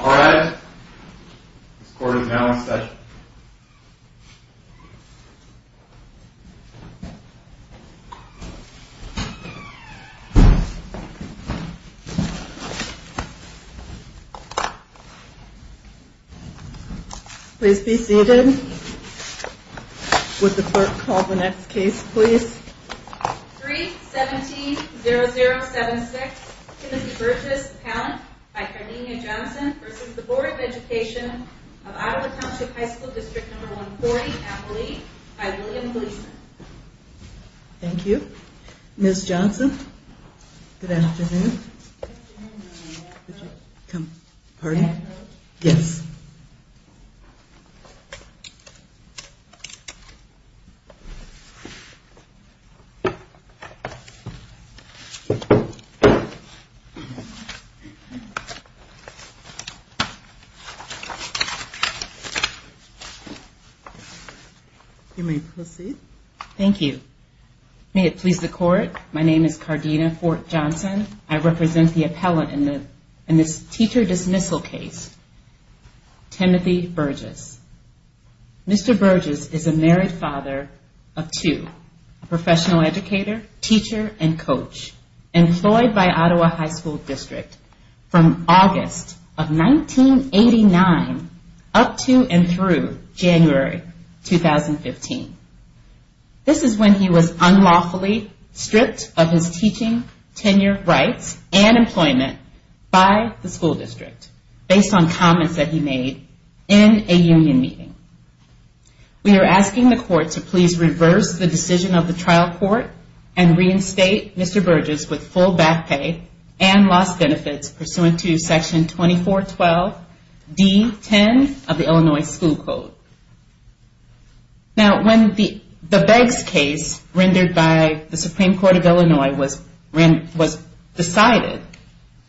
All rise. This court is now in session. Please be seated. Would the clerk call the next case, please? 3-17-0076, Timothy Burtis, Appellant, by Karnina Johnson, v. Board of Education of Ottawa Township High School District 140, Appellee, by William Gleason. Thank you. Ms. Johnson, good afternoon. Good afternoon, Madam Co-Chair. Pardon? Madam Co-Chair. Yes. You may proceed. Thank you. May it please the Court, my name is Karnina Fort-Johnson. I represent the appellant in this teacher dismissal case, Timothy Burgess. Mr. Burgess is a married father of two, a professional teacher and a teacher's assistant. He was a professional educator, teacher, and coach, employed by Ottawa High School District from August of 1989 up to and through January 2015. This is when he was unlawfully stripped of his teaching tenure rights and employment by the school district, based on comments that he made in a union meeting. We are asking the Court to please reverse the decision of the trial court and reinstate Mr. Burgess with full back pay and lost benefits pursuant to Section 2412 D-10 of the Illinois School Code. Now, when the Beggs case rendered by the Supreme Court of Illinois was decided,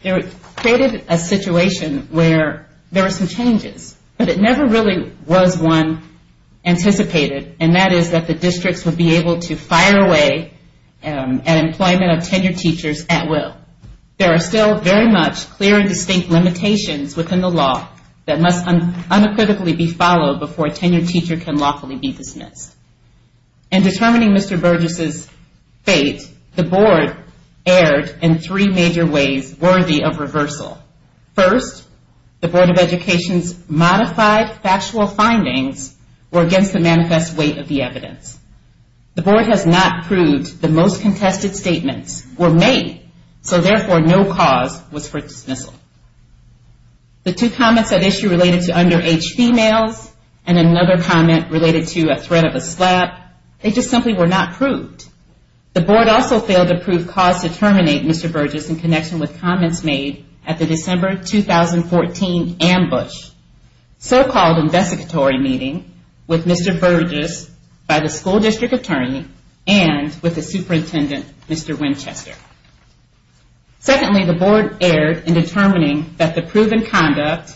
it created a situation where there were some changes. But it never really was one anticipated, and that is that the districts would be able to fire away an employment of tenured teachers at will. There are still very much clear and distinct limitations within the law that must unacritically be followed before a tenured teacher can lawfully be dismissed. In determining Mr. Burgess' fate, the Board erred in three major ways worthy of reversal. First, the Board of Education's modified factual findings were against the manifest weight of the evidence. The Board has not proved the most contested statements were made, so therefore no cause was for dismissal. The two comments at issue related to underage females and another comment related to a threat of a slap, they just simply were not proved. The Board also failed to prove cause to terminate Mr. Burgess in connection with comments made at the December 2014 ambush, so-called investigatory meeting with Mr. Burgess by the school district attorney and with the superintendent, Mr. Winchester. Secondly, the Board erred in determining that the proven conduct,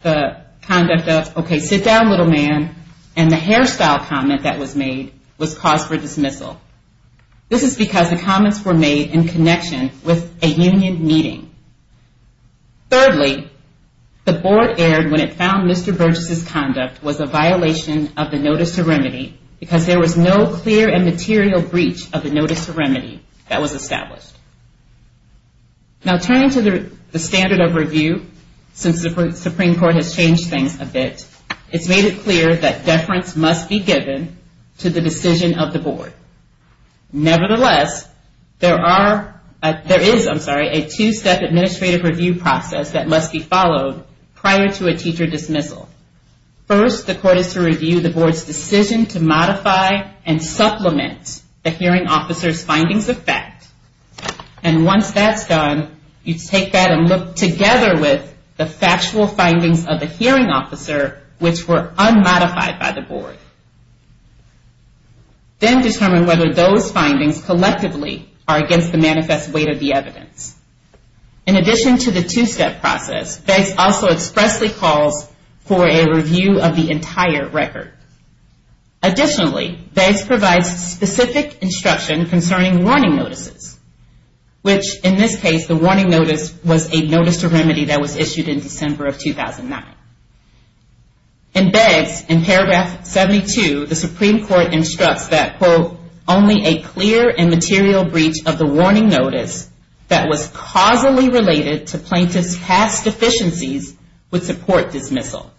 the conduct of, okay, sit down little man, and the hairstyle comment that was made was cause for dismissal. This is because the comments were made in connection with a union meeting. Thirdly, the Board erred when it found Mr. Burgess' conduct was a violation of the Notice to Remedy because there was no clear and material breach of the Notice to Remedy that was established. Now turning to the standard of review, since the Supreme Court has changed things a bit, it's made it clear that deference must be given to the decision of the Board. Nevertheless, there is a two-step administrative review process that must be followed prior to a teacher dismissal. First, the Court is to review the Board's decision to modify and supplement the hearing officer's findings of fact. And once that's done, you take that and look together with the factual findings of the hearing officer, which were unmodified by the Board. Then determine whether those findings collectively are against the manifest weight of the evidence. In addition to the two-step process, BEGS also expressly calls for a review of the entire record. Additionally, BEGS provides specific instruction concerning warning notices, which in this case, the warning notice was a Notice to Remedy that was issued in December of 2009. In BEGS, in paragraph 72, the Supreme Court instructs that, quote, only a clear and material breach of the warning notice that was causally related to plaintiff's past deficiencies would support dismissal.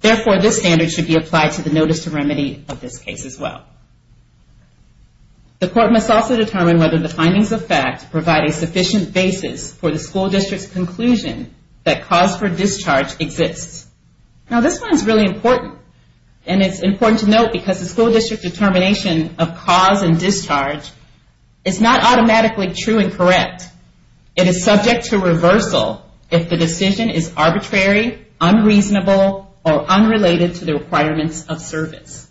Therefore, this standard should be applied to the Notice to Remedy of this case as well. The Court must also determine whether the findings of fact provide a sufficient basis for the school district's conclusion that cause for discharge exists. Now, this one is really important, and it's important to note because the school district determination of cause and discharge is not automatically true and correct. It is subject to reversal if the decision is arbitrary, unreasonable, or unrelated to the requirements of service.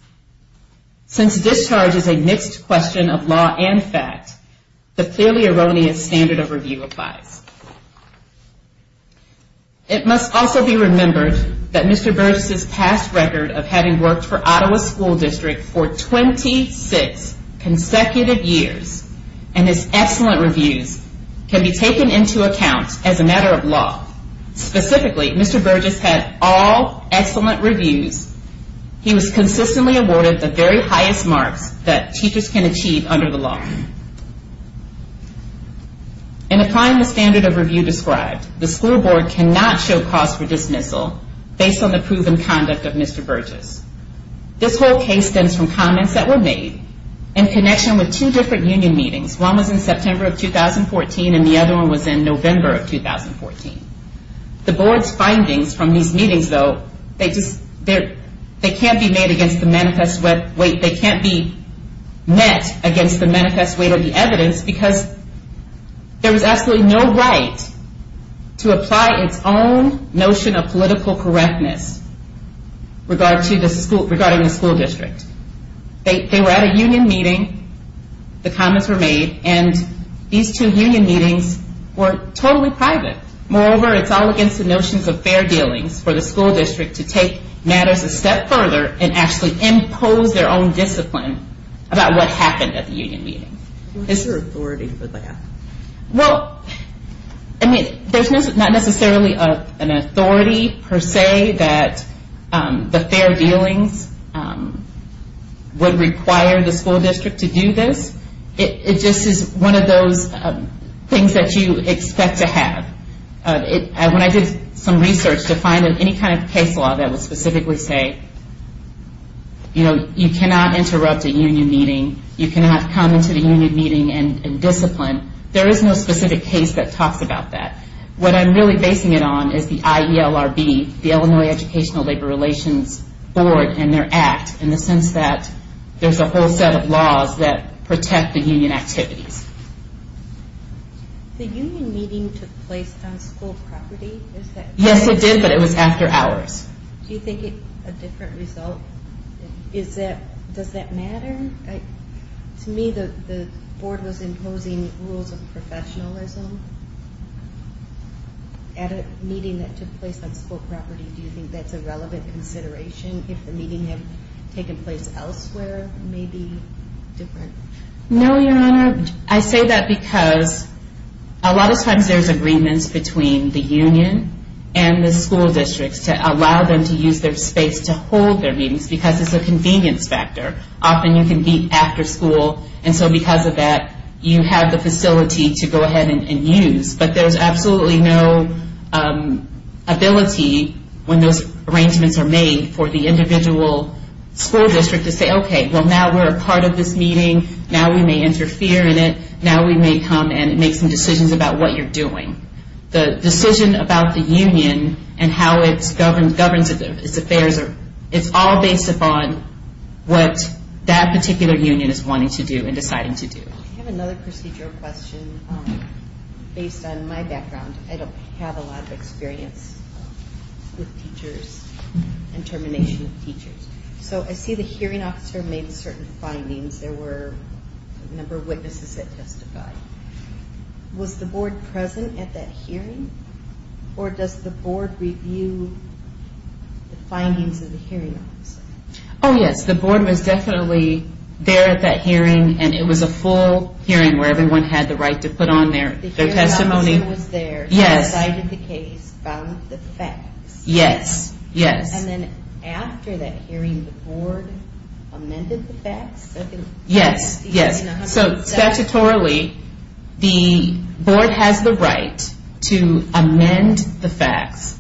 Since discharge is a mixed question of law and fact, the clearly erroneous standard of review applies. It must also be remembered that Mr. Burgess' past record of having worked for Ottawa School District for 26 consecutive years and his excellent reviews can be taken into account as a matter of law. Specifically, Mr. Burgess had all excellent reviews. He was consistently awarded the very highest marks that teachers can achieve under the law. In applying the standard of review described, the school board cannot show cause for dismissal based on the proven conduct of Mr. Burgess. This whole case stems from comments that were made in connection with two different union meetings. One was in September of 2014, and the other one was in November of 2014. The board's findings from these meetings, though, they can't be met against the manifest weight of the evidence because there was absolutely no right to apply its own notion of political correctness regarding the school district. They were at a union meeting. The comments were made, and these two union meetings were totally private. Moreover, it's all against the notions of fair dealings for the school district to take matters a step further and actually impose their own discipline about what happened at the union meeting. Is there authority for that? Well, I mean, there's not necessarily an authority per se that the fair dealings would require the school district to do this. It just is one of those things that you expect to have. When I did some research to find any kind of case law that would specifically say, you know, you cannot interrupt a union meeting, you cannot come into the union meeting and discipline, there is no specific case that talks about that. What I'm really basing it on is the IELRB, the Illinois Educational Labor Relations Board, and their act, in the sense that there's a whole set of laws that protect the union activities. The union meeting took place on school property? Yes, it did, but it was after hours. Do you think it's a different result? Does that matter? To me, the board was imposing rules of professionalism at a meeting that took place on school property. Do you think that's a relevant consideration if the meeting had taken place elsewhere, maybe different? No, Your Honor. I say that because a lot of times there's agreements between the union and the school districts to allow them to use their space to hold their meetings because it's a convenience factor. Often you can meet after school, and so because of that, you have the facility to go ahead and use. But there's absolutely no ability when those arrangements are made for the individual school district to say, okay, well now we're a part of this meeting, now we may interfere in it, now we may come and make some decisions about what you're doing. The decision about the union and how it governs its affairs, it's all based upon what that particular union is wanting to do and deciding to do. I have another procedural question based on my background. I don't have a lot of experience with teachers and termination of teachers. So I see the hearing officer made certain findings. There were a number of witnesses that testified. Was the board present at that hearing, or does the board review the findings of the hearing officer? Oh, yes, the board was definitely there at that hearing, and it was a full hearing where everyone had the right to put on their testimony. The hearing officer was there, cited the case, found the facts. Yes, yes. And then after that hearing, the board amended the facts? Yes, yes. So statutorily, the board has the right to amend the facts.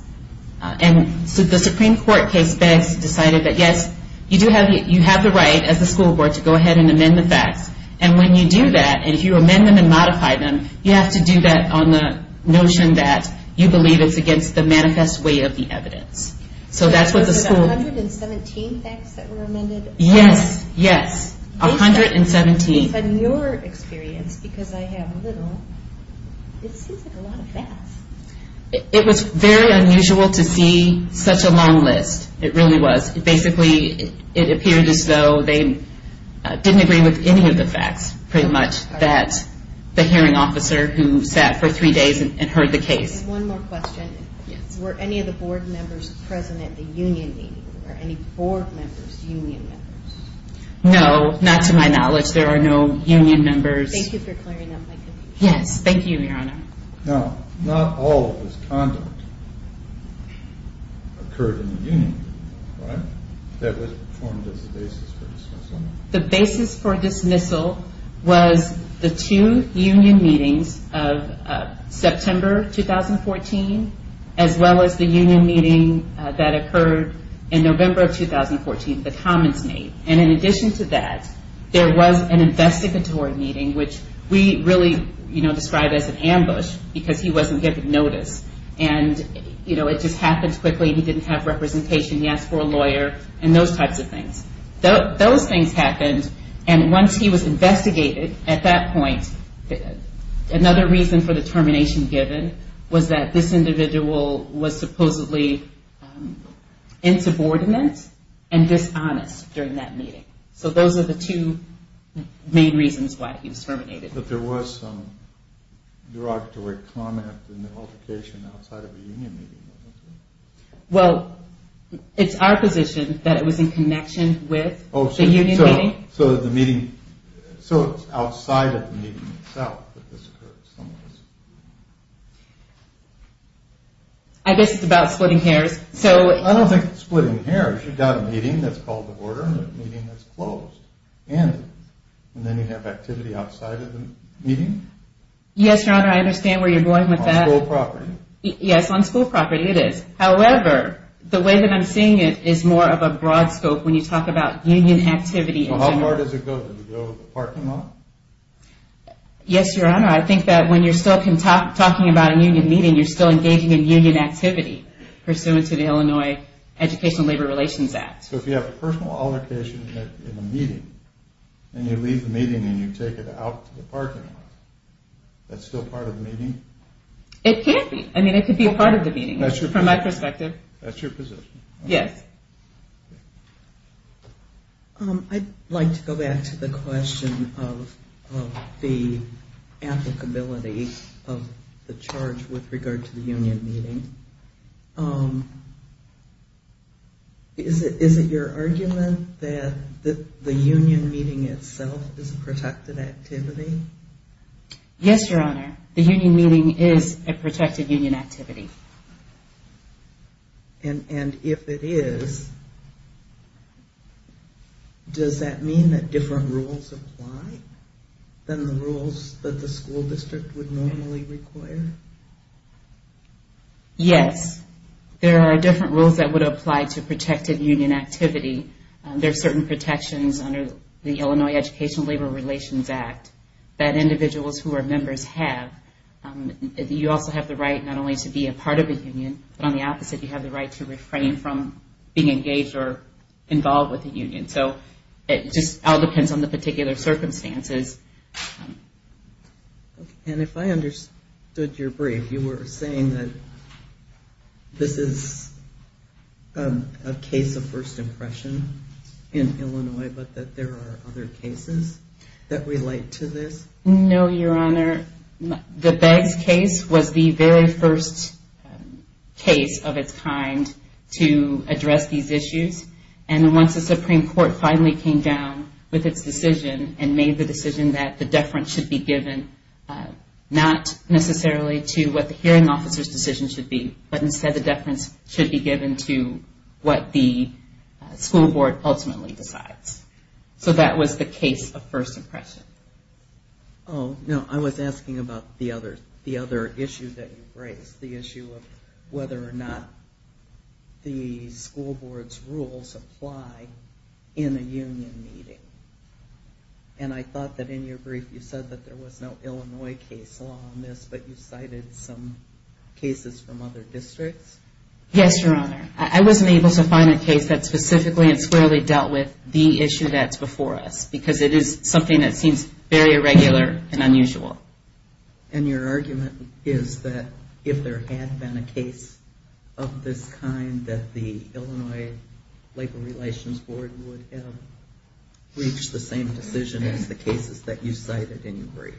And so the Supreme Court case best decided that yes, you have the right as a school board to go ahead and amend the facts. And when you do that, and if you amend them and modify them, you have to do that on the notion that you believe it's against the manifest way of the evidence. So that's what the school... There were about 117 facts that were amended? Yes, yes, 117. From your experience, because I have little, it seems like a lot of facts. It was very unusual to see such a long list. It really was. Basically, it appeared as though they didn't agree with any of the facts, pretty much, that the hearing officer who sat for three days and heard the case. One more question. Yes. Were any of the board members present at the union meeting? Were any board members union members? No, not to my knowledge. There are no union members. Thank you for clearing up my confusion. Yes. Thank you, Your Honor. Now, not all of this conduct occurred in the union, right? That was performed as a basis for dismissal. The basis for dismissal was the two union meetings of September 2014, as well as the union meeting that occurred in November of 2014, the commons meeting. And in addition to that, there was an investigatory meeting, which we really describe as an ambush because he wasn't given notice. And it just happened quickly. He didn't have representation. He asked for a lawyer and those types of things. Those things happened. And once he was investigated at that point, another reason for the termination given was that this individual was supposedly insubordinate and dishonest during that meeting. So those are the two main reasons why he was terminated. But there was some derogatory comment and altercation outside of the union meeting, wasn't there? Well, it's our position that it was in connection with the union meeting. So it's outside of the meeting itself that this occurred. I guess it's about splitting hairs. I don't think it's splitting hairs. You've got a meeting that's called the border and a meeting that's closed. And then you have activity outside of the meeting? Yes, Your Honor, I understand where you're going with that. On school property. Yes, on school property it is. However, the way that I'm seeing it is more of a broad scope. When you talk about union activity in general. How far does it go? Does it go to the parking lot? Yes, Your Honor. I think that when you're still talking about a union meeting, you're still engaging in union activity pursuant to the Illinois Education and Labor Relations Act. So if you have a personal altercation in a meeting and you leave the meeting and you take it out to the parking lot, that's still part of the meeting? It can be. I mean, it could be a part of the meeting from my perspective. That's your position? Yes. Okay. I'd like to go back to the question of the applicability of the charge with regard to the union meeting. Is it your argument that the union meeting itself is a protected activity? Yes, Your Honor. The union meeting is a protected union activity. And if it is, does that mean that different rules apply than the rules that the school district would normally require? Yes. There are different rules that would apply to protected union activity. There are certain protections under the Illinois Education and Labor Relations Act that individuals who are members have. You also have the right not only to be a part of a union, but on the opposite, you have the right to refrain from being engaged or involved with a union. So it just all depends on the particular circumstances. And if I understood your brief, you were saying that this is a case of first impression in Illinois, but that there are other cases that relate to this? No, Your Honor. The Beggs case was the very first case of its kind to address these issues. And once the Supreme Court finally came down with its decision and made the decision that the deference should be given, not necessarily to what the hearing officer's decision should be, but instead the deference should be given to what the school board ultimately decides. So that was the case of first impression. Oh, no, I was asking about the other issue that you raised, the issue of whether or not the school board's rules apply in a union meeting. And I thought that in your brief you said that there was no Illinois case law on this, but you cited some cases from other districts? Yes, Your Honor. I wasn't able to find a case that specifically and squarely dealt with the issue that's before us, because it is something that seems very irregular and unusual. And your argument is that if there had been a case of this kind, that the Illinois Labor Relations Board would have reached the same decision as the cases that you cited in your brief?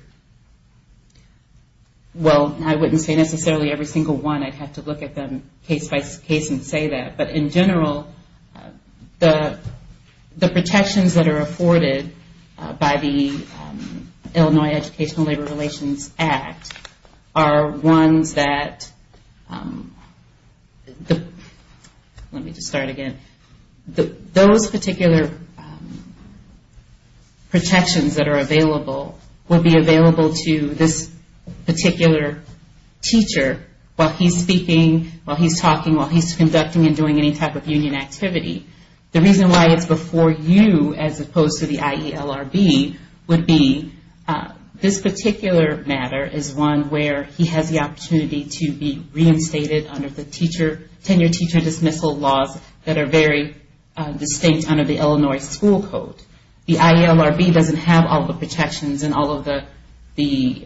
Well, I wouldn't say necessarily every single one. I'd have to look at them case by case and say that. But in general, the protections that are afforded by the Illinois Educational Labor Relations Act are ones that, let me just start again, those particular protections that are available will be available to this particular teacher while he's speaking, while he's talking, while he's conducting and doing any type of union activity. The reason why it's before you as opposed to the IELRB would be this particular matter is one where he has the opportunity to be reinstated under the tenure teacher dismissal laws that are very distinct under the Illinois school code. The IELRB doesn't have all the protections and all of the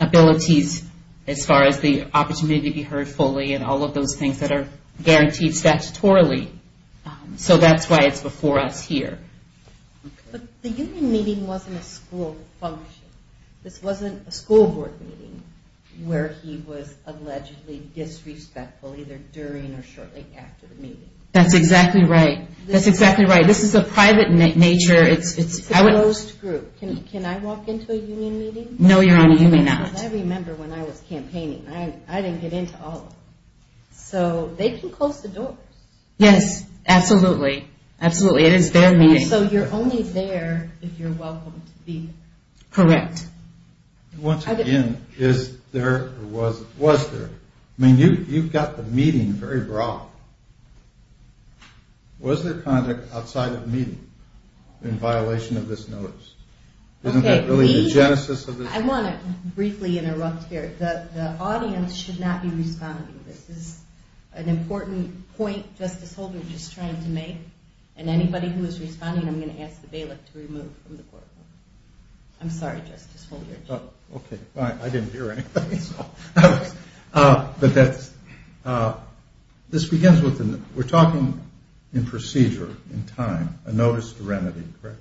abilities as far as the opportunity to be heard fully and all of those things that are guaranteed statutorily. So that's why it's before us here. But the union meeting wasn't a school function. This wasn't a school board meeting where he was allegedly disrespectful either during or shortly after the meeting. That's exactly right. That's exactly right. This is a private nature. It's a closed group. Can I walk into a union meeting? No, your honor, you may not. I remember when I was campaigning. I didn't get into all of them. So they can close the doors. Yes, absolutely. Absolutely. It is their meeting. So you're only there if you're welcome to be there. Correct. Once again, is there or was there? I mean, you've got the meeting very broad. Was there conduct outside of the meeting in violation of this notice? Isn't that really the genesis of this? I want to briefly interrupt here. The audience should not be responding. This is an important point Justice Holder just tried to make. And anybody who is responding, I'm going to ask the bailiff to remove from the courtroom. I'm sorry, Justice Holder. Okay, fine. I didn't hear anything. This begins with we're talking in procedure, in time, a notice of remedy, correct?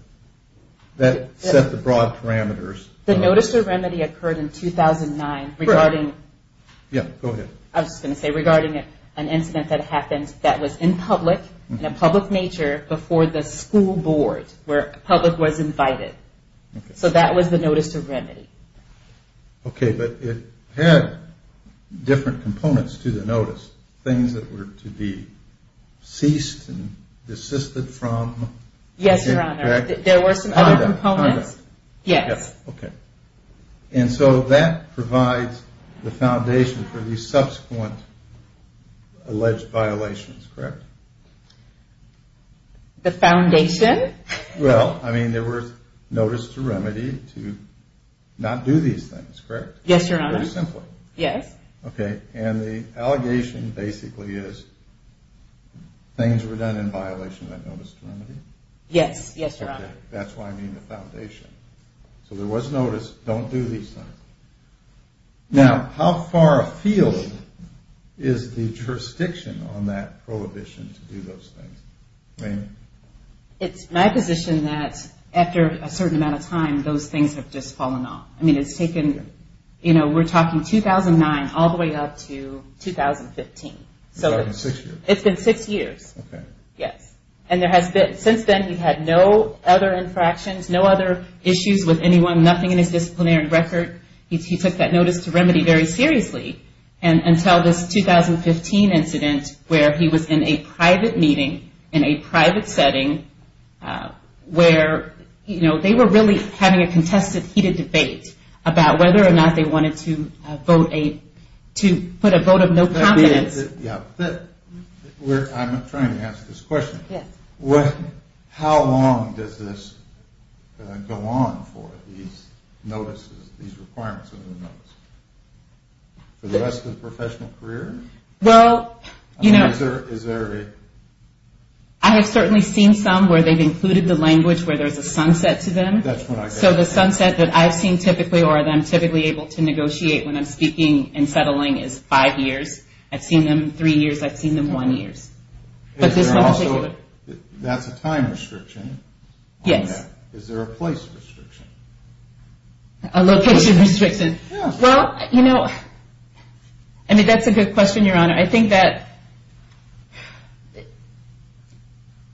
That set the broad parameters. The notice of remedy occurred in 2009 regarding. Correct. Yeah, go ahead. I was going to say regarding an incident that happened that was in public in a public nature before the school board where public was invited. So that was the notice of remedy. Okay, but it had different components to the notice, things that were to be ceased and desisted from. Yes, Your Honor. There were some other components. Conduct. Yes. Okay. And so that provides the foundation for the subsequent alleged violations, correct? The foundation? Well, I mean there was notice to remedy to not do these things, correct? Yes, Your Honor. Very simply. Yes. Okay. And the allegation basically is things were done in violation of that notice of remedy? Yes. Yes, Your Honor. That's why I mean the foundation. So there was notice, don't do these things. Now, how far afield is the jurisdiction on that prohibition to do those things? Ma'am? It's my position that after a certain amount of time, those things have just fallen off. I mean it's taken, you know, we're talking 2009 all the way up to 2015. It's been six years. It's been six years. Okay. Yes. And since then he's had no other infractions, no other issues with anyone, nothing in his disciplinary record. He took that notice to remedy very seriously until this 2015 incident where he was in a private meeting in a private setting where, you know, they were really having a contested heated debate about whether or not they wanted to put a vote of no confidence. I'm trying to ask this question. Yes. How long does this go on for, these notices, these requirements of the notice? For the rest of the professional career? Well, you know, I have certainly seen some where they've included the language where there's a sunset to them. That's what I get. So the sunset that I've seen typically or that I'm typically able to negotiate when I'm speaking and settling is five years. I've seen them three years. I've seen them one year. That's a time restriction. Yes. Is there a place restriction? A location restriction. Yes. Well, you know, I mean, that's a good question, Your Honor. I think that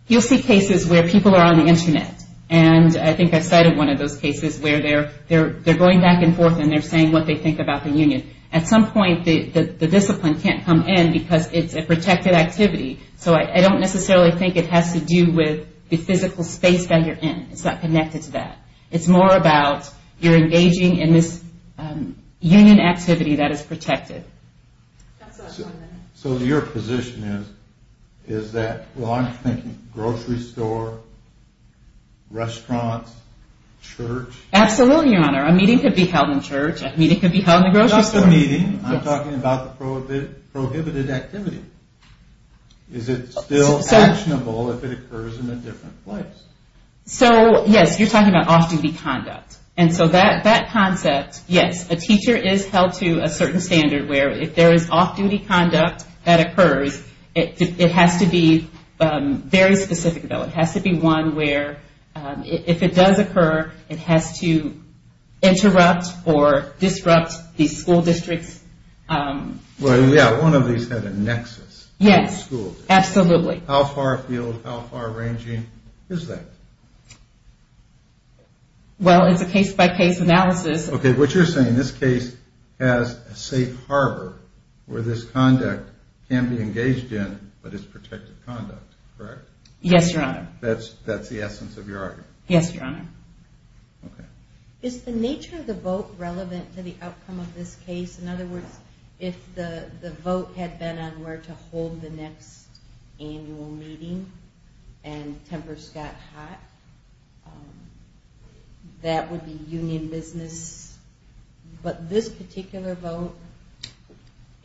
you'll see cases where people are on the Internet, and I think I cited one of those cases where they're going back and forth and they're saying what they think about the union. At some point the discipline can't come in because it's a protected activity. So I don't necessarily think it has to do with the physical space that you're in. It's not connected to that. It's more about you're engaging in this union activity that is protected. So your position is that, well, I'm thinking grocery store, restaurants, church? Absolutely, Your Honor. A meeting could be held in church. A meeting could be held in the grocery store. Not the meeting. I'm talking about the prohibited activity. Is it still actionable if it occurs in a different place? So, yes, you're talking about off-duty conduct. And so that concept, yes, a teacher is held to a certain standard where if there is off-duty conduct that occurs, it has to be very specific, though. It has to be one where if it does occur, it has to interrupt or disrupt the school districts. Well, yeah, one of these had a nexus. Yes, absolutely. How far field, how far ranging is that? Well, it's a case-by-case analysis. Okay, what you're saying, this case has a safe harbor where this conduct can be engaged in, but it's protected conduct, correct? Yes, Your Honor. That's the essence of your argument? Yes, Your Honor. Okay. Is the nature of the vote relevant to the outcome of this case? In other words, if the vote had been on where to hold the next annual meeting and tempers got hot, that would be union business. But this particular vote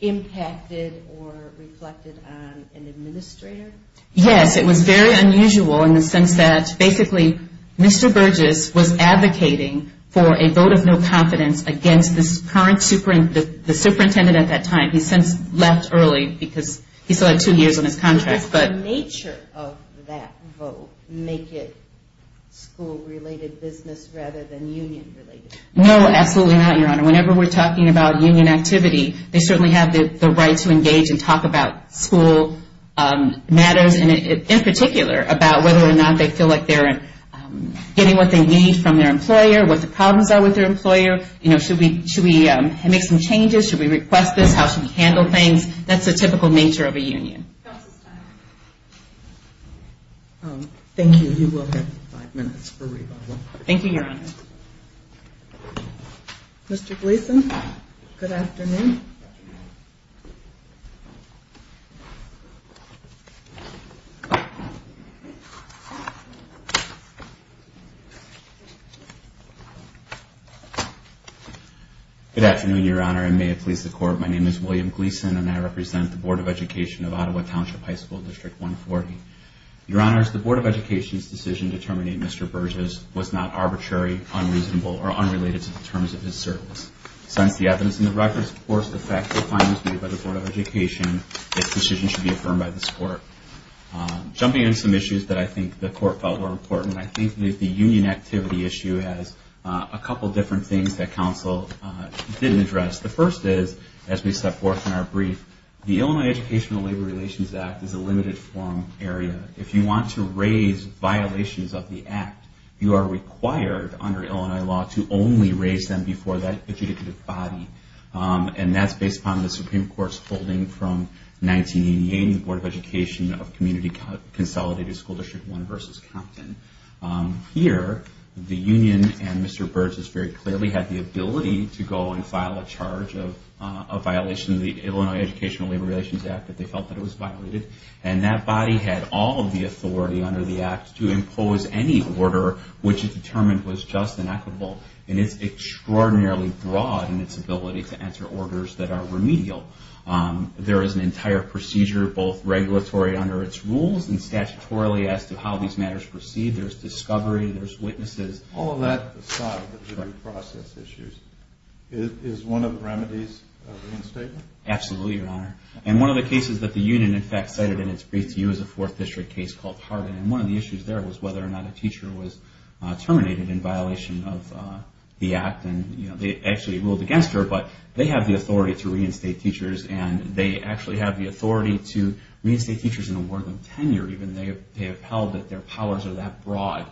impacted or reflected on an administrator? Yes, it was very unusual in the sense that basically Mr. Burgess was advocating for a vote of no confidence against the superintendent at that time. He's since left early because he still had two years on his contract. Does the nature of that vote make it school-related business rather than union-related? No, absolutely not, Your Honor. Whenever we're talking about union activity, they certainly have the right to engage and talk about school matters, and in particular about whether or not they feel like they're getting what they need from their employer, what the problems are with their employer. You know, should we make some changes? Should we request this? How should we handle things? That's the typical nature of a union. Thank you. You will have five minutes for rebuttal. Thank you, Your Honor. Mr. Gleeson, good afternoon. Good afternoon, Your Honor, and may it please the Court, my name is William Gleeson, and I represent the Board of Education of Ottawa Township High School District 140. Your Honors, the Board of Education's decision to terminate Mr. Burgess was not arbitrary, unreasonable, or unrelated to the terms of his service. Since the evidence in the record supports the factual findings made by the Board of Education, this decision should be affirmed by this Court. Jumping into some issues that I think the Court felt were important, I think the union activity issue has a couple different things that counsel didn't address. The first is, as we step forth in our brief, the Illinois Educational Labor Relations Act is a limited forum area. If you want to raise violations of the act, you are required under Illinois law to only raise them before that adjudicative body, and that's based upon the Supreme Court's holding from 1988 in the Board of Education of Community Consolidated School District 1 versus Compton. Here, the union and Mr. Burgess very clearly had the ability to go and file a charge of a violation of the Illinois Educational Labor Relations Act that they felt that it was violated, and that body had all of the authority under the act to impose any order which it determined was just and equitable, and it's extraordinarily broad in its ability to enter orders that are remedial. There is an entire procedure, both regulatory under its rules and statutorily as to how these matters proceed. There's discovery, there's witnesses. All of that aside, the jury process issues, is one of the remedies of reinstatement? Absolutely, Your Honor. And one of the cases that the union, in fact, cited in its brief to you is a Fourth District case called Hardin, and one of the issues there was whether or not a teacher was terminated in violation of the act. They actually ruled against her, but they have the authority to reinstate teachers, and they actually have the authority to reinstate teachers and award them tenure. They have held that their powers are that broad.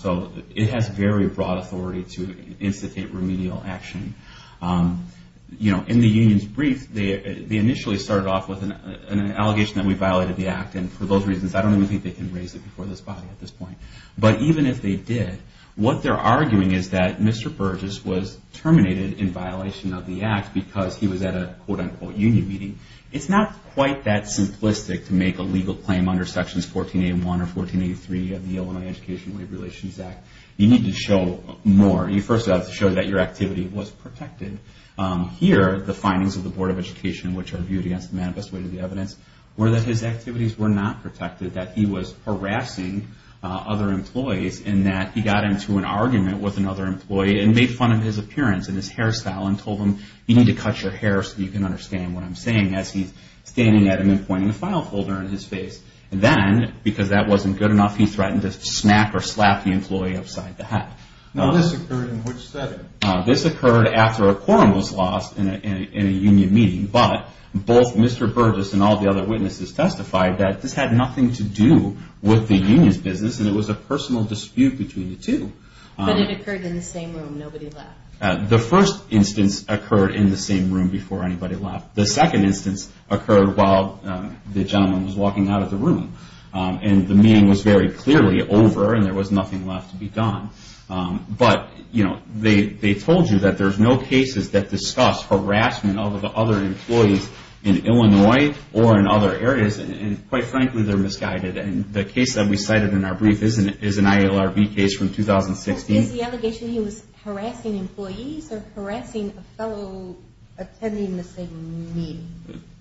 So it has very broad authority to instigate remedial action. In the union's brief, they initially started off with an allegation that we violated the act, and for those reasons, I don't even think they can raise it before this body at this point. But even if they did, what they're arguing is that Mr. Burgess was terminated in violation of the act because he was at a, quote-unquote, union meeting. It's not quite that simplistic to make a legal claim under Sections 1481 or 1483 of the Illinois Educational Aid Relations Act. You need to show more. You first have to show that your activity was protected. Here, the findings of the Board of Education, which are viewed against the manifest weight of the evidence, were that his activities were not protected, that he was harassing other employees, and that he got into an argument with another employee and made fun of his appearance and his hairstyle and told him, you need to cut your hair so you can understand what I'm saying, as he's standing at him and pointing a file folder in his face. Then, because that wasn't good enough, he threatened to smack or slap the employee upside the head. Now, this occurred in which setting? This occurred after a quorum was lost in a union meeting, but both Mr. Burgess and all the other witnesses testified that this had nothing to do with the union's business and it was a personal dispute between the two. But it occurred in the same room. Nobody left. The first instance occurred in the same room before anybody left. The second instance occurred while the gentleman was walking out of the room, and the meeting was very clearly over and there was nothing left to be done. But, you know, they told you that there's no cases that discuss harassment of other employees in Illinois or in other areas, and quite frankly, they're misguided. The case that we cited in our brief is an ILRB case from 2016. Is the allegation he was harassing employees or harassing a fellow attending the same meeting?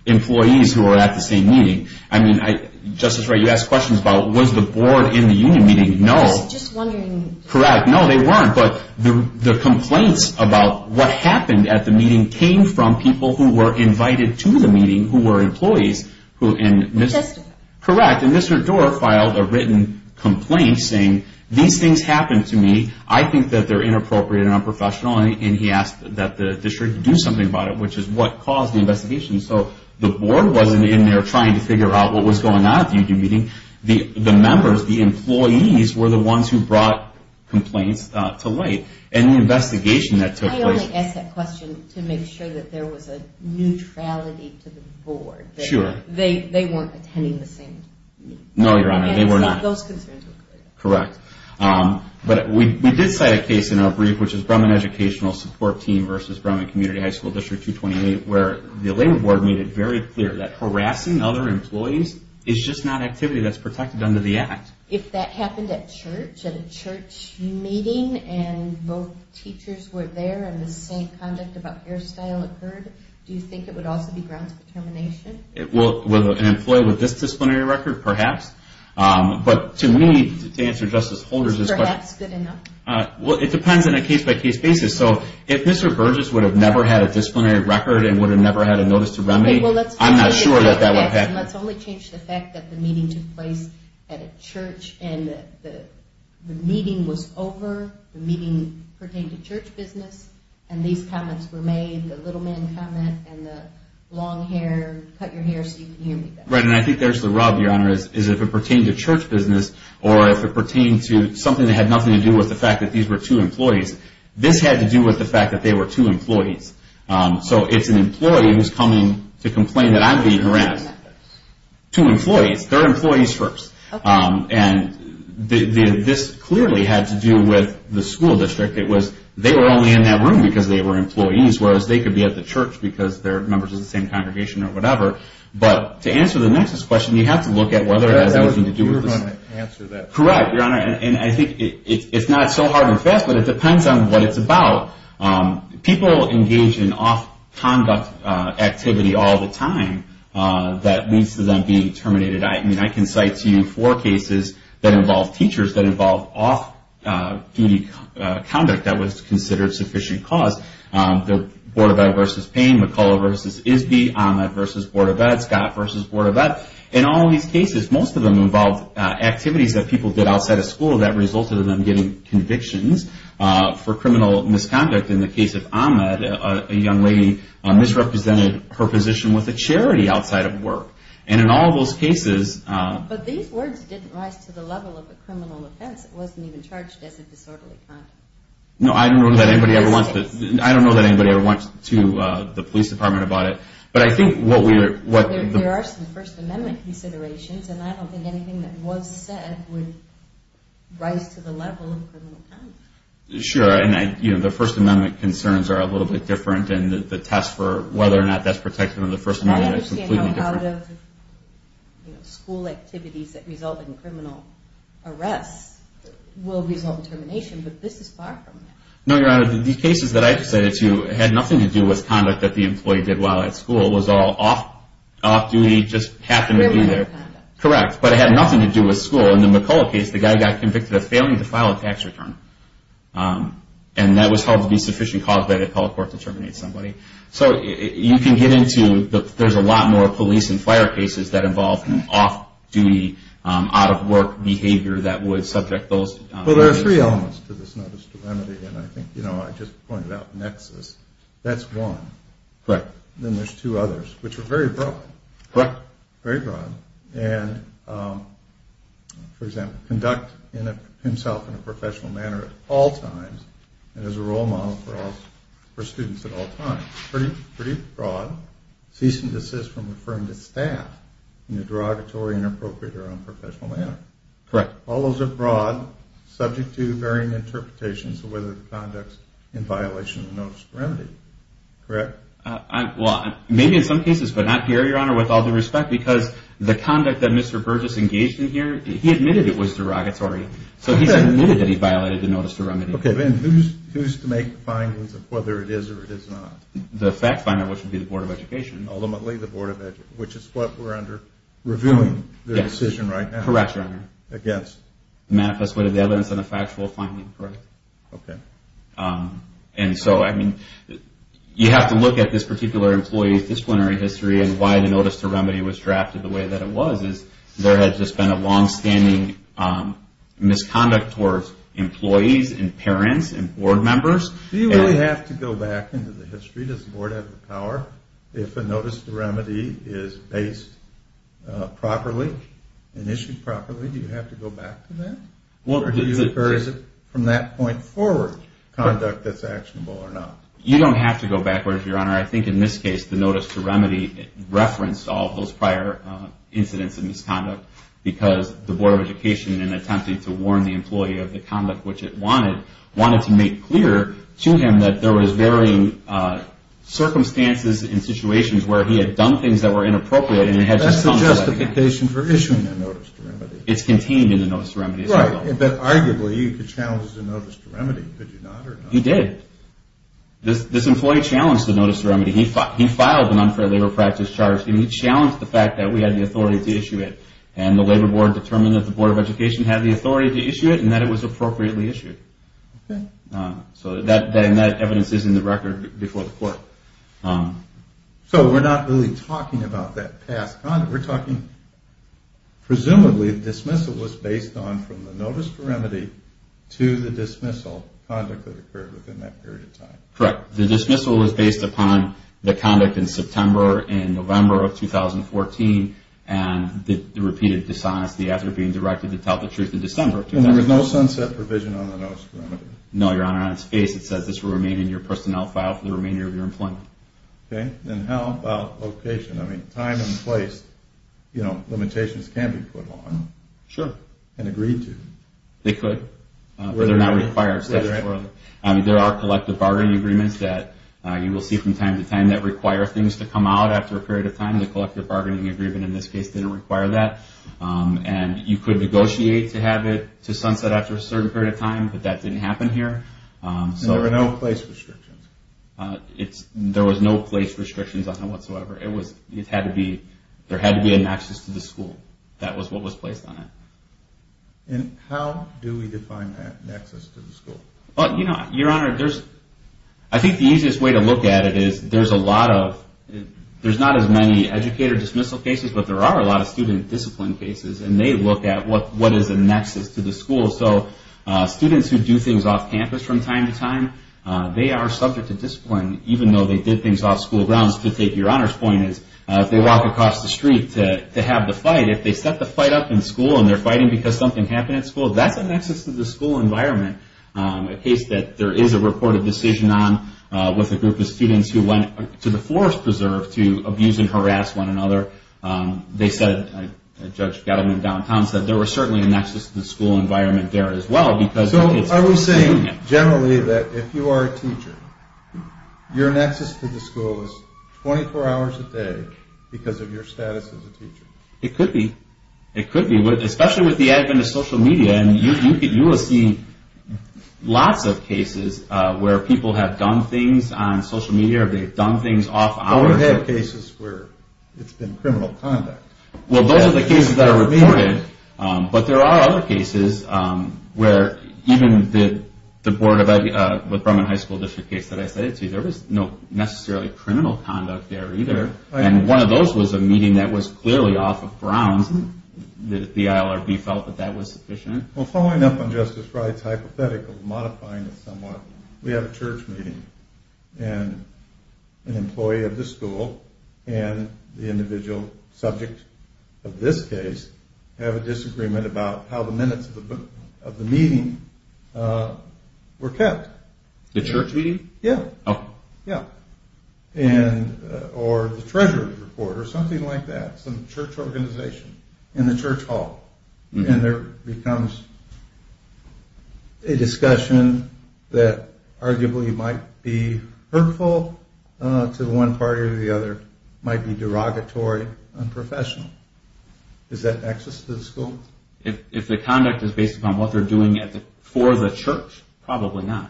Employees who were at the same meeting. I mean, Justice Wright, you asked questions about was the board in the union meeting? No. Just wondering. Correct. No, they weren't. But the complaints about what happened at the meeting came from people who were invited to the meeting who were employees. Who testified. Correct. And Mr. Dorff filed a written complaint saying, these things happened to me. I think that they're inappropriate and unprofessional, and he asked that the district do something about it, which is what caused the investigation. So the board wasn't in there trying to figure out what was going on at the union meeting. The members, the employees, were the ones who brought complaints to light, and the investigation that took place. I only asked that question to make sure that there was a neutrality to the board. Sure. They weren't attending the same meeting. No, Your Honor, they were not. Those concerns were clear. Correct. But we did cite a case in our brief, which is Brumman Educational Support Team versus Brumman Community High School District 228, where the labor board made it very clear that harassing other employees is just not activity that's protected under the act. If that happened at church, at a church meeting, and both teachers were there and the same conduct about hairstyle occurred, do you think it would also be grounds for termination? Well, an employee with this disciplinary record? Perhaps. But to me, to answer Justice Holder's question. Perhaps, good enough. Well, it depends on a case-by-case basis. So if Mr. Burgess would have never had a disciplinary record and would have never had a notice to remedy, I'm not sure that that would happen. Let's only change the fact that the meeting took place at a church and the meeting was over, the meeting pertained to church business, and these comments were made, the little man comment and the long hair, cut your hair so you can hear me better. Right, and I think there's the rub, Your Honor, is if it pertained to church business or if it pertained to something that had nothing to do with the fact that these were two employees, this had to do with the fact that they were two employees. So it's an employee who's coming to complain that I'm being harassed. Two employees. Two employees. Third employees first. And this clearly had to do with the school district. It was they were only in that room because they were employees, whereas they could be at the church because they're members of the same congregation or whatever. But to answer the next question, you have to look at whether it has anything to do with this. You're going to answer that. Correct, Your Honor, and I think it's not so hard and fast, but it depends on what it's about. People engage in off-conduct activity all the time that leads to them being terminated. I mean, I can cite to you four cases that involved teachers that involved off-duty conduct that was considered sufficient cause. The Bordovet versus Payne, McCullough versus Isby, Ahmed versus Bordovet, Scott versus Bordovet. In all these cases, most of them involved activities that people did outside of school that resulted in them getting convictions for criminal misconduct. In the case of Ahmed, a young lady misrepresented her position with a charity outside of work. And in all those cases. But these words didn't rise to the level of a criminal offense. It wasn't even charged as a disorderly conduct. No, I don't know that anybody ever went to the police department about it. There are some First Amendment considerations, and I don't think anything that was said would rise to the level of criminal conduct. Sure, and the First Amendment concerns are a little bit different, and the test for whether or not that's protected under the First Amendment is completely different. A lot of school activities that result in criminal arrests will result in termination, but this is far from that. No, Your Honor, the cases that I presented to you had nothing to do with conduct that the employee did while at school. It was all off-duty, just happened to be there. Correct, but it had nothing to do with school. In the McCullough case, the guy got convicted of failing to file a tax return. And that was held to be sufficient cause by the appellate court to terminate somebody. So you can get into, there's a lot more police and fire cases that involve off-duty, out-of-work behavior that would subject those. Well, there are three elements to this notice to remedy, and I think, you know, I just pointed out nexus. That's one. Correct. Then there's two others, which are very broad. Correct. Very broad. And, for example, conduct himself in a professional manner at all times and as a role model for students at all times. Pretty broad. Cease and desist from referring to staff in a derogatory, inappropriate, or unprofessional manner. Correct. All those are broad, subject to varying interpretations of whether the conduct's in violation of the notice to remedy. Correct? Well, maybe in some cases, but not here, Your Honor, with all due respect, because the conduct that Mr. Burgess engaged in here, he admitted it was derogatory. So he admitted that he violated the notice to remedy. Okay. Then who's to make the findings of whether it is or it is not? The fact finder, which would be the Board of Education. Ultimately, the Board of Education, which is what we're under reviewing the decision right now. Correct, Your Honor. Against? The manifest way to the evidence and the factual finding. Correct. Okay. And so, I mean, you have to look at this particular employee's disciplinary history and why the notice to remedy was drafted the way that it was. Because there has just been a longstanding misconduct towards employees and parents and board members. Do you really have to go back into the history? Does the Board have the power? If a notice to remedy is based properly and issued properly, do you have to go back to that? Or is it from that point forward conduct that's actionable or not? You don't have to go backwards, Your Honor. I think in this case, the notice to remedy referenced all those prior incidents of misconduct because the Board of Education, in attempting to warn the employee of the conduct which it wanted, wanted to make clear to him that there was varying circumstances and situations where he had done things that were inappropriate. That's the justification for issuing the notice to remedy. It's contained in the notice to remedy. Right. But arguably, you could challenge the notice to remedy. Could you not or not? You did. This employee challenged the notice to remedy. He filed an unfair labor practice charge, and he challenged the fact that we had the authority to issue it. And the Labor Board determined that the Board of Education had the authority to issue it and that it was appropriately issued. Okay. And that evidence is in the record before the court. So we're not really talking about that past conduct. We're talking presumably dismissal was based on from the notice to remedy to the dismissal conduct that occurred within that period of time. Correct. The dismissal was based upon the conduct in September and November of 2014 and the repeated dishonesty after being directed to tell the truth in December of 2014. And there was no sunset provision on the notice to remedy? No, Your Honor. On its face, it says this will remain in your personnel file for the remainder of your employment. Okay. And how about location? I mean, time and place, you know, limitations can be put on. Sure. And agreed to. They could, but they're not required. There are collective bargaining agreements that you will see from time to time that require things to come out after a period of time. The collective bargaining agreement in this case didn't require that. And you could negotiate to have it to sunset after a certain period of time, but that didn't happen here. And there were no place restrictions? There was no place restrictions on it whatsoever. It had to be an access to the school. That was what was placed on it. And how do we define that access to the school? Well, you know, Your Honor, I think the easiest way to look at it is there's a lot of, there's not as many educator dismissal cases, but there are a lot of student discipline cases, and they look at what is a nexus to the school. So students who do things off campus from time to time, they are subject to discipline, even though they did things off school grounds. To take Your Honor's point, if they walk across the street to have the fight, if they set the fight up in school and they're fighting because something happened at school, that's a nexus to the school environment, a case that there is a reported decision on with a group of students who went to the forest preserve to abuse and harass one another. They said, Judge Gettleman downtown said there was certainly a nexus to the school environment there as well. So are we saying generally that if you are a teacher, your nexus to the school is 24 hours a day because of your status as a teacher? It could be. It could be, especially with the advent of social media, and you will see lots of cases where people have done things on social media or they've done things off hours. Oh, I've had cases where it's been criminal conduct. Well, those are the cases that are reported, but there are other cases where even the Board of Ed, with Brumman High School District case that I cited to you, there was no necessarily criminal conduct there either, and one of those was a meeting that was clearly off of grounds that the ILRB felt that that was sufficient. Well, following up on Justice Wright's hypothetical, modifying it somewhat, we have a church meeting and an employee of the school and the individual subject of this case have a disagreement about how the minutes of the meeting were kept. The church meeting? Yeah. Oh. Yeah. Or the treasury report or something like that, some church organization in the church hall, and there becomes a discussion that arguably might be hurtful to one party or the other, might be derogatory, unprofessional. Is that access to the school? If the conduct is based upon what they're doing for the church, probably not.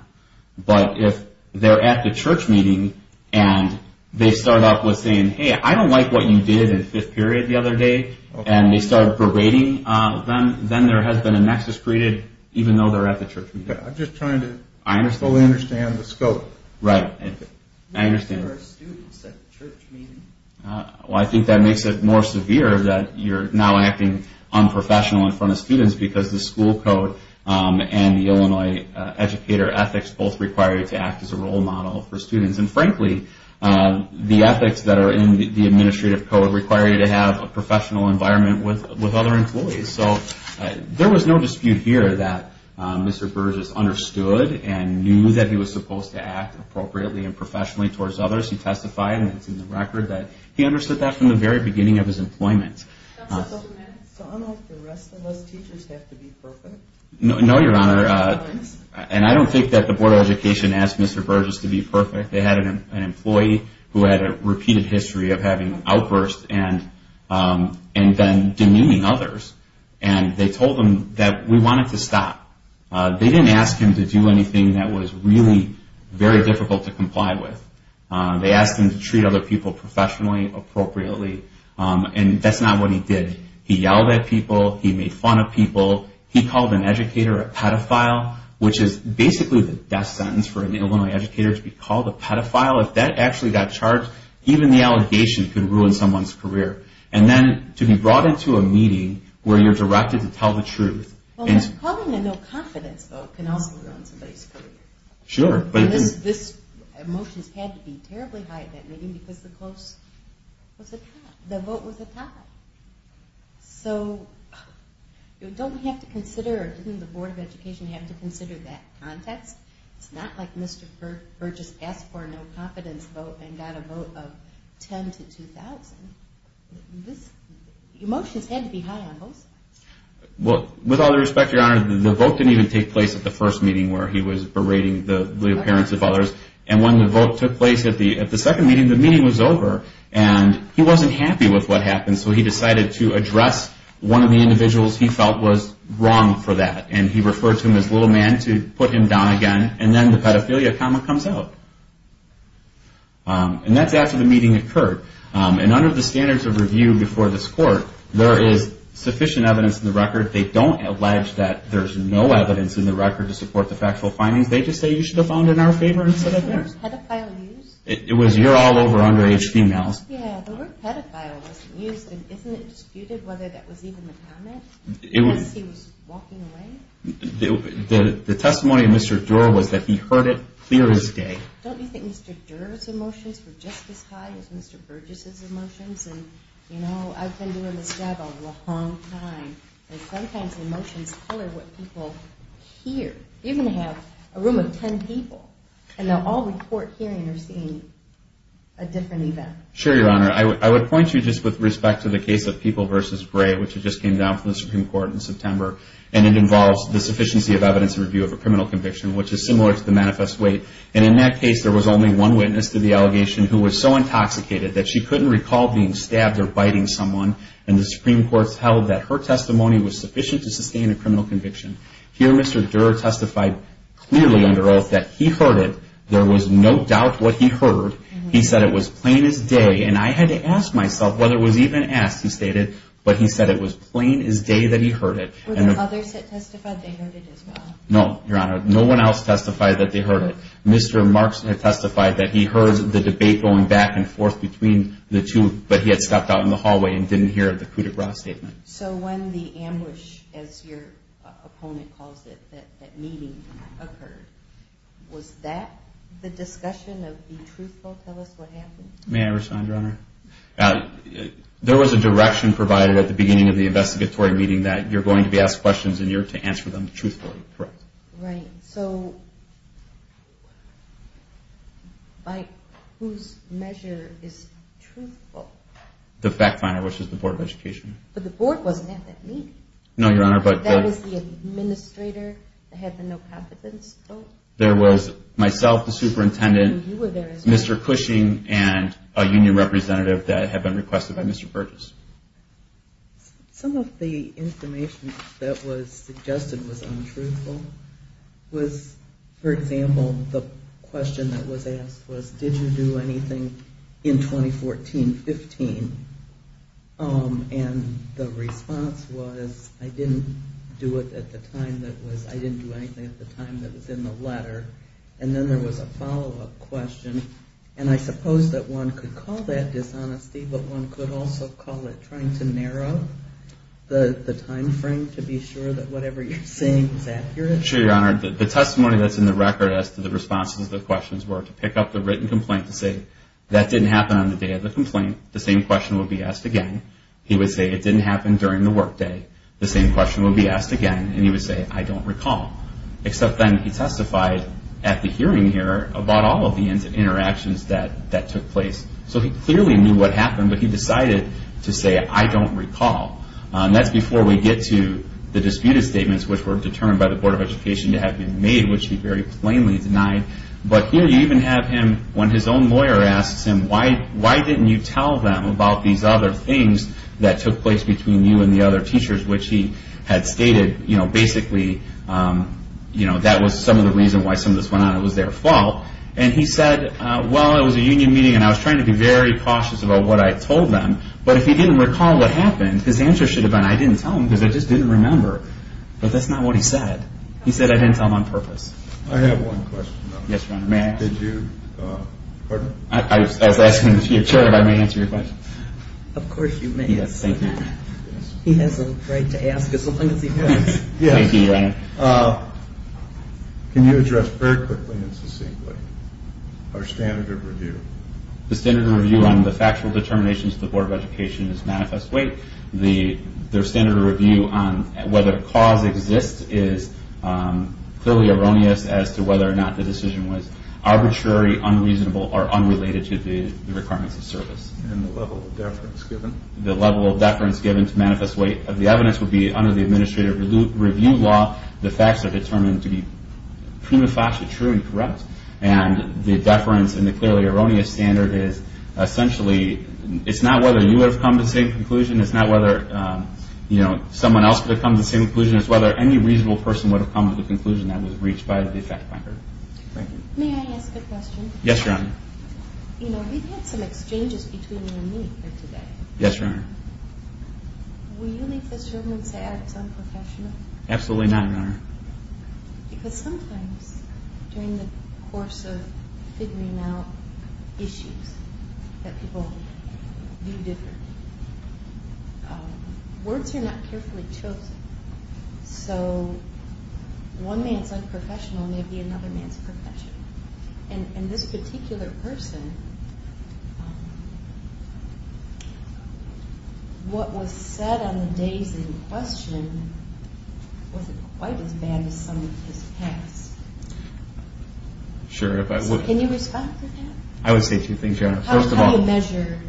But if they're at the church meeting and they start off with saying, hey, I don't like what you did in fifth period the other day, and they start berating them, then there has been a nexus created, even though they're at the church meeting. I'm just trying to fully understand the scope. Right. I understand. I don't think there are students at church meetings. Well, I think that makes it more severe that you're now acting unprofessional in front of students because the school code and the Illinois educator ethics both require you to act as a role model for students. And, frankly, the ethics that are in the administrative code require you to have a professional environment with other employees. So there was no dispute here that Mr. Burgess understood and knew that he was supposed to act appropriately and professionally towards others. He testified, and it's in the record, that he understood that from the very beginning of his employment. So I don't know if the rest of us teachers have to be perfect. No, Your Honor. And I don't think that the Board of Education asked Mr. Burgess to be perfect. They had an employee who had a repeated history of having outbursts and then demeaning others. And they told him that we wanted to stop. They didn't ask him to do anything that was really very difficult to comply with. They asked him to treat other people professionally, appropriately. And that's not what he did. He yelled at people. He made fun of people. He called an educator a pedophile, which is basically the death sentence for an Illinois educator to be called a pedophile. If that actually got charged, even the allegation could ruin someone's career. And then to be brought into a meeting where you're directed to tell the truth. Well, calling a no-confidence vote can also ruin somebody's career. Sure. Emotions had to be terribly high at that meeting because the vote was a tie. So don't we have to consider, or didn't the Board of Education have to consider that context? It's not like Mr. Burgess asked for a no-confidence vote and got a vote of 10 to 2,000. Emotions had to be high on both sides. Well, with all due respect, Your Honor, the vote didn't even take place at the first meeting where he was berating the appearance of others. And when the vote took place at the second meeting, the meeting was over. And he wasn't happy with what happened, so he decided to address one of the individuals he felt was wrong for that. And he referred to him as little man to put him down again. And then the pedophilia comma comes out. And that's after the meeting occurred. And under the standards of review before this court, there is sufficient evidence in the record. They don't allege that there's no evidence in the record to support the factual findings. They just say you should have gone in our favor instead of theirs. The word pedophile used? It was you're all over underage females. Yeah, the word pedophile was used. And isn't it disputed whether that was even the comment? Unless he was walking away? The testimony of Mr. Durer was that he heard it clear as day. Don't you think Mr. Durer's emotions were just as high as Mr. Burgess's emotions? And, you know, I've been doing this job a long time. And sometimes emotions color what people hear. You can have a room of 10 people, and they'll all report hearing or seeing a different event. Sure, Your Honor. I would point you just with respect to the case of People v. Bray, which just came down from the Supreme Court in September. And it involves the sufficiency of evidence in review of a criminal conviction, which is similar to the manifest weight. And in that case, there was only one witness to the allegation who was so intoxicated that she couldn't recall being stabbed or biting someone. And the Supreme Court held that her testimony was sufficient to sustain a criminal conviction. Here Mr. Durer testified clearly under oath that he heard it. There was no doubt what he heard. He said it was plain as day. And I had to ask myself whether it was even asked, he stated, but he said it was plain as day that he heard it. No, Your Honor. No one else testified that they heard it. Mr. Markson had testified that he heard the debate going back and forth between the two, but he had stepped out in the hallway and didn't hear the coup de grace statement. So when the ambush, as your opponent calls it, that meeting occurred, was that the discussion of be truthful, tell us what happened? May I respond, Your Honor? There was a direction provided at the beginning of the investigatory meeting that you're going to be asked questions, and you're to answer them truthfully, correct? Right. So by whose measure is truthful? The fact finder, which is the Board of Education. But the board wasn't at that meeting. No, Your Honor. That was the administrator that had the no confidence vote? There was myself, the superintendent, Mr. Cushing, and a union representative that had been requested by Mr. Burgess. Some of the information that was suggested was untruthful. For example, the question that was asked was, did you do anything in 2014-15? And the response was, I didn't do anything at the time that was in the letter. And then there was a follow-up question, and I suppose that one could call that dishonesty, but one could also call it trying to narrow the time frame to be sure that whatever you're saying is accurate. Sure, Your Honor. The testimony that's in the record as to the responses to the questions were to pick up the written complaint to say, that didn't happen on the day of the complaint. The same question would be asked again. He would say, it didn't happen during the workday. The same question would be asked again, and he would say, I don't recall. Except then he testified at the hearing here about all of the interactions that took place. So he clearly knew what happened, but he decided to say, I don't recall. That's before we get to the disputed statements, which were determined by the Board of Education to have been made, which he very plainly denied. But here you even have him, when his own lawyer asks him, why didn't you tell them about these other things that took place between you and the other teachers, which he had stated basically that was some of the reason why some of this went on. It was their fault. And he said, well, it was a union meeting, and I was trying to be very cautious about what I told them. But if he didn't recall what happened, his answer should have been, I didn't tell them, because I just didn't remember. But that's not what he said. He said I didn't tell them on purpose. I have one question, though. Yes, Your Honor. May I ask? Did you, pardon? I was asking to your chair if I may answer your question. Of course you may. He has a right to ask as long as he wants. Yes. Thank you, Your Honor. Can you address very quickly and succinctly our standard of review? The standard of review on the factual determinations of the Board of Education is manifest weight. The standard of review on whether cause exists is clearly erroneous as to whether or not the decision was arbitrary, unreasonable, or unrelated to the requirements of service. And the level of deference given? The level of deference given to manifest weight of the evidence would be under the administrative review law the facts are determined to be prima facie true and correct. And the deference and the clearly erroneous standard is essentially, it's not whether you would have come to the same conclusion. It's not whether, you know, someone else would have come to the same conclusion. It's whether any reasonable person would have come to the conclusion that was reached by the effect finder. Thank you. May I ask a question? Yes, Your Honor. You know, we've had some exchanges between you and me here today. Yes, Your Honor. Will you leave this room and say I was unprofessional? Absolutely not, Your Honor. Because sometimes during the course of figuring out issues that people view differently, words are not carefully chosen. So one man's unprofessional may be another man's professional. And this particular person, what was said on the days in question, was it quite as bad as some of his past? Sure. Can you respond to that? I would say two things, Your Honor. First of all, How do you measure?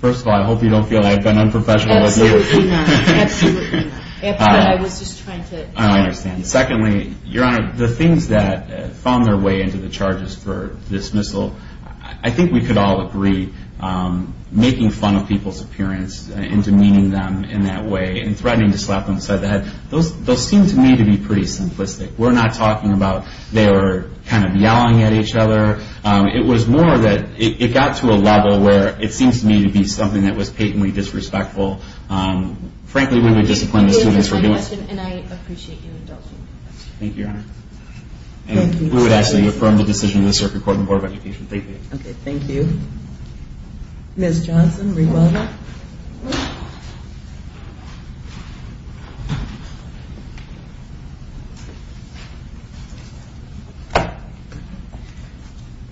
First of all, I hope you don't feel I've been unprofessional. Absolutely not. Absolutely not. After what I was just trying to say. I understand. Secondly, Your Honor, the things that found their way into the charges for dismissal, I think we could all agree, making fun of people's appearance and demeaning them in that way and threatening to slap them on the side of the head, those seem to me to be pretty simplistic. We're not talking about they were kind of yelling at each other. It was more that it got to a level where it seems to me to be something that was patently disrespectful. Frankly, we would discipline the students for doing that. Thank you for your question, and I appreciate you indulging me. Thank you, Your Honor. Thank you. We would ask that you affirm the decision of the Circuit Court and Board of Education. Thank you. Okay, thank you. Ms. Johnson, rebuttal?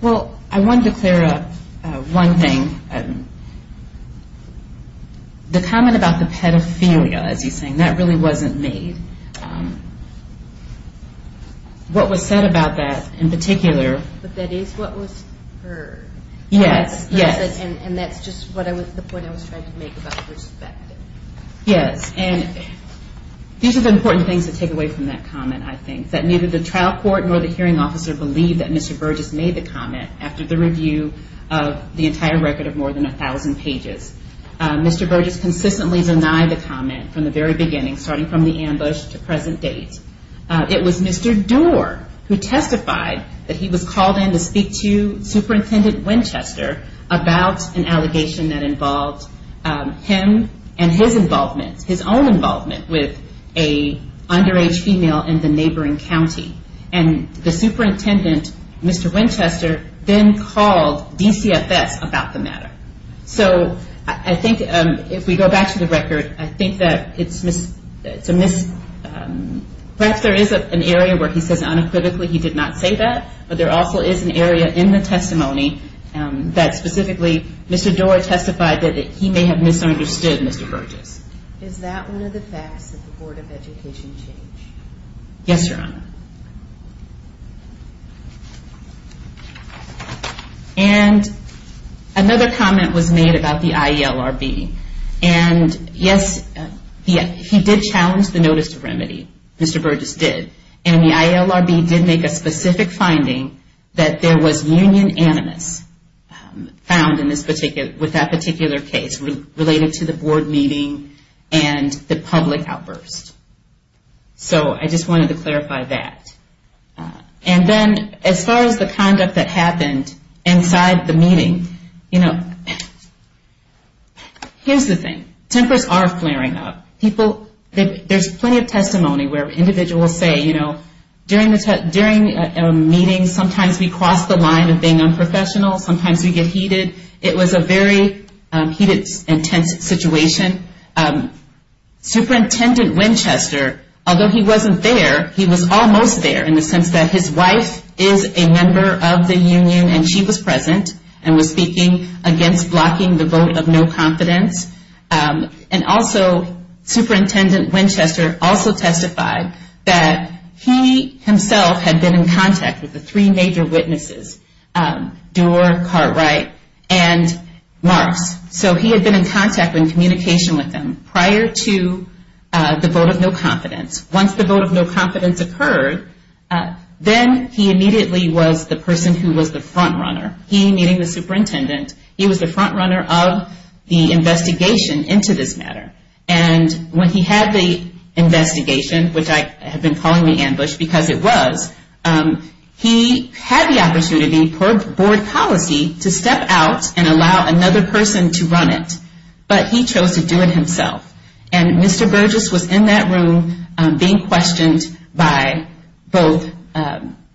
Well, I wanted to clear up one thing. The comment about the pedophilia, as he's saying, that really wasn't made. What was said about that in particular But that is what was heard. Yes, yes. And that's just the point I was trying to make about respect. Yes, and these are the important things to take away from that comment, I think, that neither the trial court nor the hearing officer believed that Mr. Burgess made the comment after the review of the entire record of more than 1,000 pages. Mr. Burgess consistently denied the comment from the very beginning, starting from the ambush to present date. It was Mr. Doar who testified that he was called in to speak to Superintendent Winchester about an allegation that involved him and his involvement, his own involvement with an underage female in the neighboring county. And the superintendent, Mr. Winchester, then called DCFS about the matter. So I think if we go back to the record, I think that it's a mis- Perhaps there is an area where he says unequivocally he did not say that, but there also is an area in the testimony that specifically Mr. Doar testified that he may have misunderstood Mr. Burgess. Is that one of the facts that the Board of Education changed? Yes, Your Honor. And another comment was made about the IELRB. And yes, he did challenge the notice to remedy. Mr. Burgess did. And the IELRB did make a specific finding that there was union animus found with that particular case related to the board meeting and the public outburst. So I just wanted to clarify that. And then as far as the conduct that happened inside the meeting, you know, here's the thing. Tempers are flaring up. There's plenty of testimony where individuals say, you know, during a meeting, sometimes we cross the line of being unprofessional, sometimes we get heated. It was a very heated and tense situation. Superintendent Winchester, although he wasn't there, he was almost there in the sense that his wife is a member of the union and she was present and was speaking against blocking the vote of no confidence. And also, Superintendent Winchester also testified that he himself had been in contact with the three major witnesses, Doar, Cartwright, and Marks. So he had been in contact and in communication with them prior to the vote of no confidence. Once the vote of no confidence occurred, then he immediately was the person who was the front runner. He, meeting the superintendent, he was the front runner of the investigation into this matter. And when he had the investigation, which I have been calling the ambush because it was, he had the opportunity per board policy to step out and allow another person to run it. But he chose to do it himself. And Mr. Burgess was in that room being questioned by both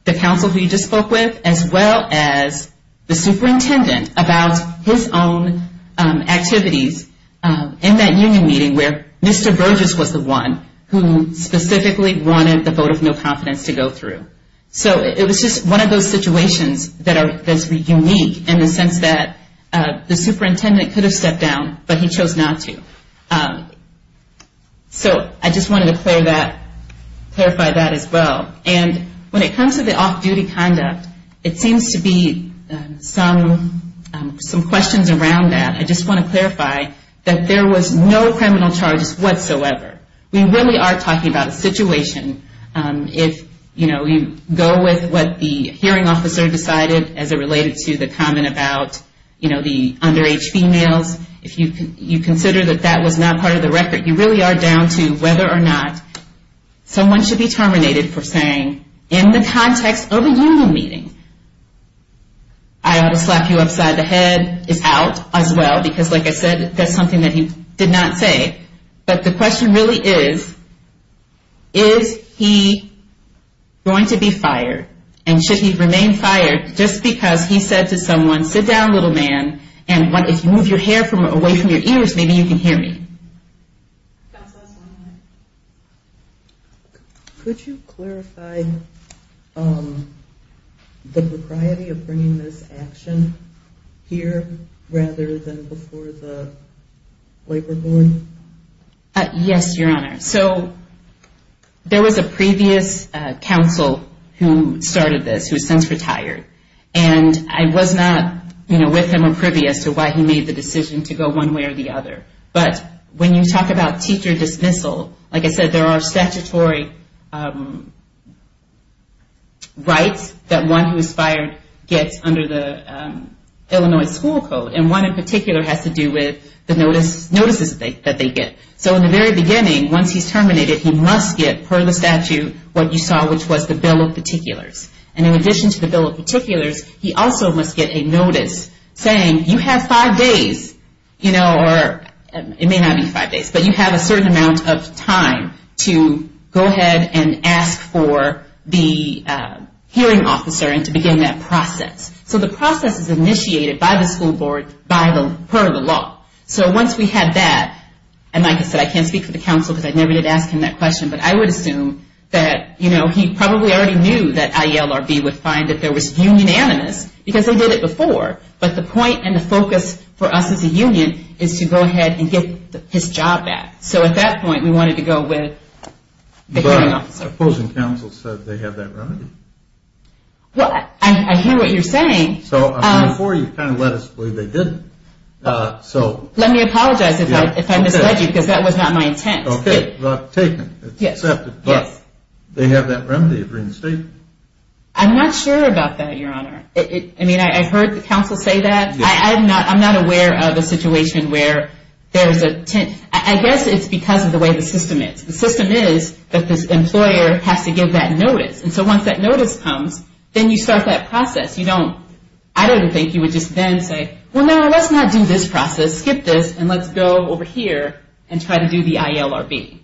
the counsel who he just spoke with, as well as the superintendent about his own activities in that union meeting where Mr. Burgess was the one who specifically wanted the vote of no confidence to go through. So it was just one of those situations that's unique in the sense that the superintendent could have stepped down, but he chose not to. So I just wanted to clarify that as well. And when it comes to the off-duty conduct, it seems to be some questions around that. I just want to clarify that there was no criminal charges whatsoever. We really are talking about a situation if, you know, you go with what the hearing officer decided as it related to the comment about, you know, the underage females, if you consider that that was not part of the record, you really are down to whether or not someone should be terminated for saying, in the context of a union meeting, I ought to slap you upside the head, is out as well. Because like I said, that's something that he did not say. But the question really is, is he going to be fired? And should he remain fired just because he said to someone, sit down, little man, and if you move your hair away from your ears, maybe you can hear me. That's the last one. Could you clarify the propriety of bringing this action here rather than before the labor board? Yes, Your Honor. So there was a previous counsel who started this, who has since retired. And I was not, you know, with him or privy as to why he made the decision to go one way or the other. But when you talk about teacher dismissal, like I said, there are statutory rights that one who is fired gets under the Illinois school code. And one in particular has to do with the notices that they get. So in the very beginning, once he's terminated, he must get, per the statute, what you saw, which was the bill of particulars. And in addition to the bill of particulars, he also must get a notice saying, you have five days, you know, or it may not be five days, but you have a certain amount of time to go ahead and ask for the hearing officer and to begin that process. So the process is initiated by the school board per the law. So once we had that, and like I said, I can't speak for the counsel because I never did ask him that question, but I would assume that, you know, he probably already knew that IELRB would find that there was union animus because they did it before, but the point and the focus for us as a union is to go ahead and get his job back. So at that point, we wanted to go with the hearing officer. But opposing counsel said they have that remedy. Well, I hear what you're saying. So before, you kind of let us believe they didn't. Let me apologize if I misled you because that was not my intent. Okay. Well, taken. It's accepted. But they have that remedy of reinstatement. I'm not sure about that, Your Honor. I mean, I've heard the counsel say that. I'm not aware of a situation where there's a 10th. I guess it's because of the way the system is. The system is that this employer has to give that notice. And so once that notice comes, then you start that process. I don't think you would just then say, well, no, let's not do this process, skip this, and let's go over here and try to do the IELRB.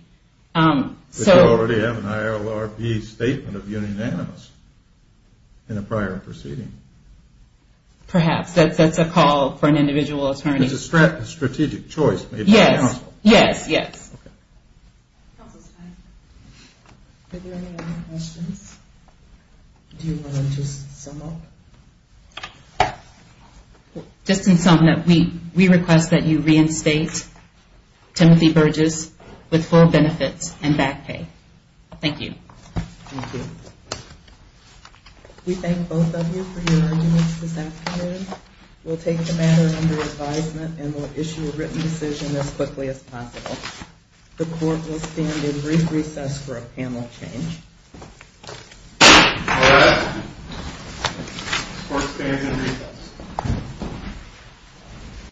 But you already have an IELRP statement of unanimous in a prior proceeding. Perhaps. That's a call for an individual attorney. It's a strategic choice made by counsel. Yes, yes. Okay. Counsel's time. Are there any other questions? Do you want to just sum up? Just to sum it up, we request that you reinstate Timothy Burgess with full benefits and back pay. Thank you. Thank you. We thank both of you for your arguments this afternoon. We'll take the matter under advisement and we'll issue a written decision as quickly as possible. The court will stand in brief recess for a panel change. All right. The court stands in recess.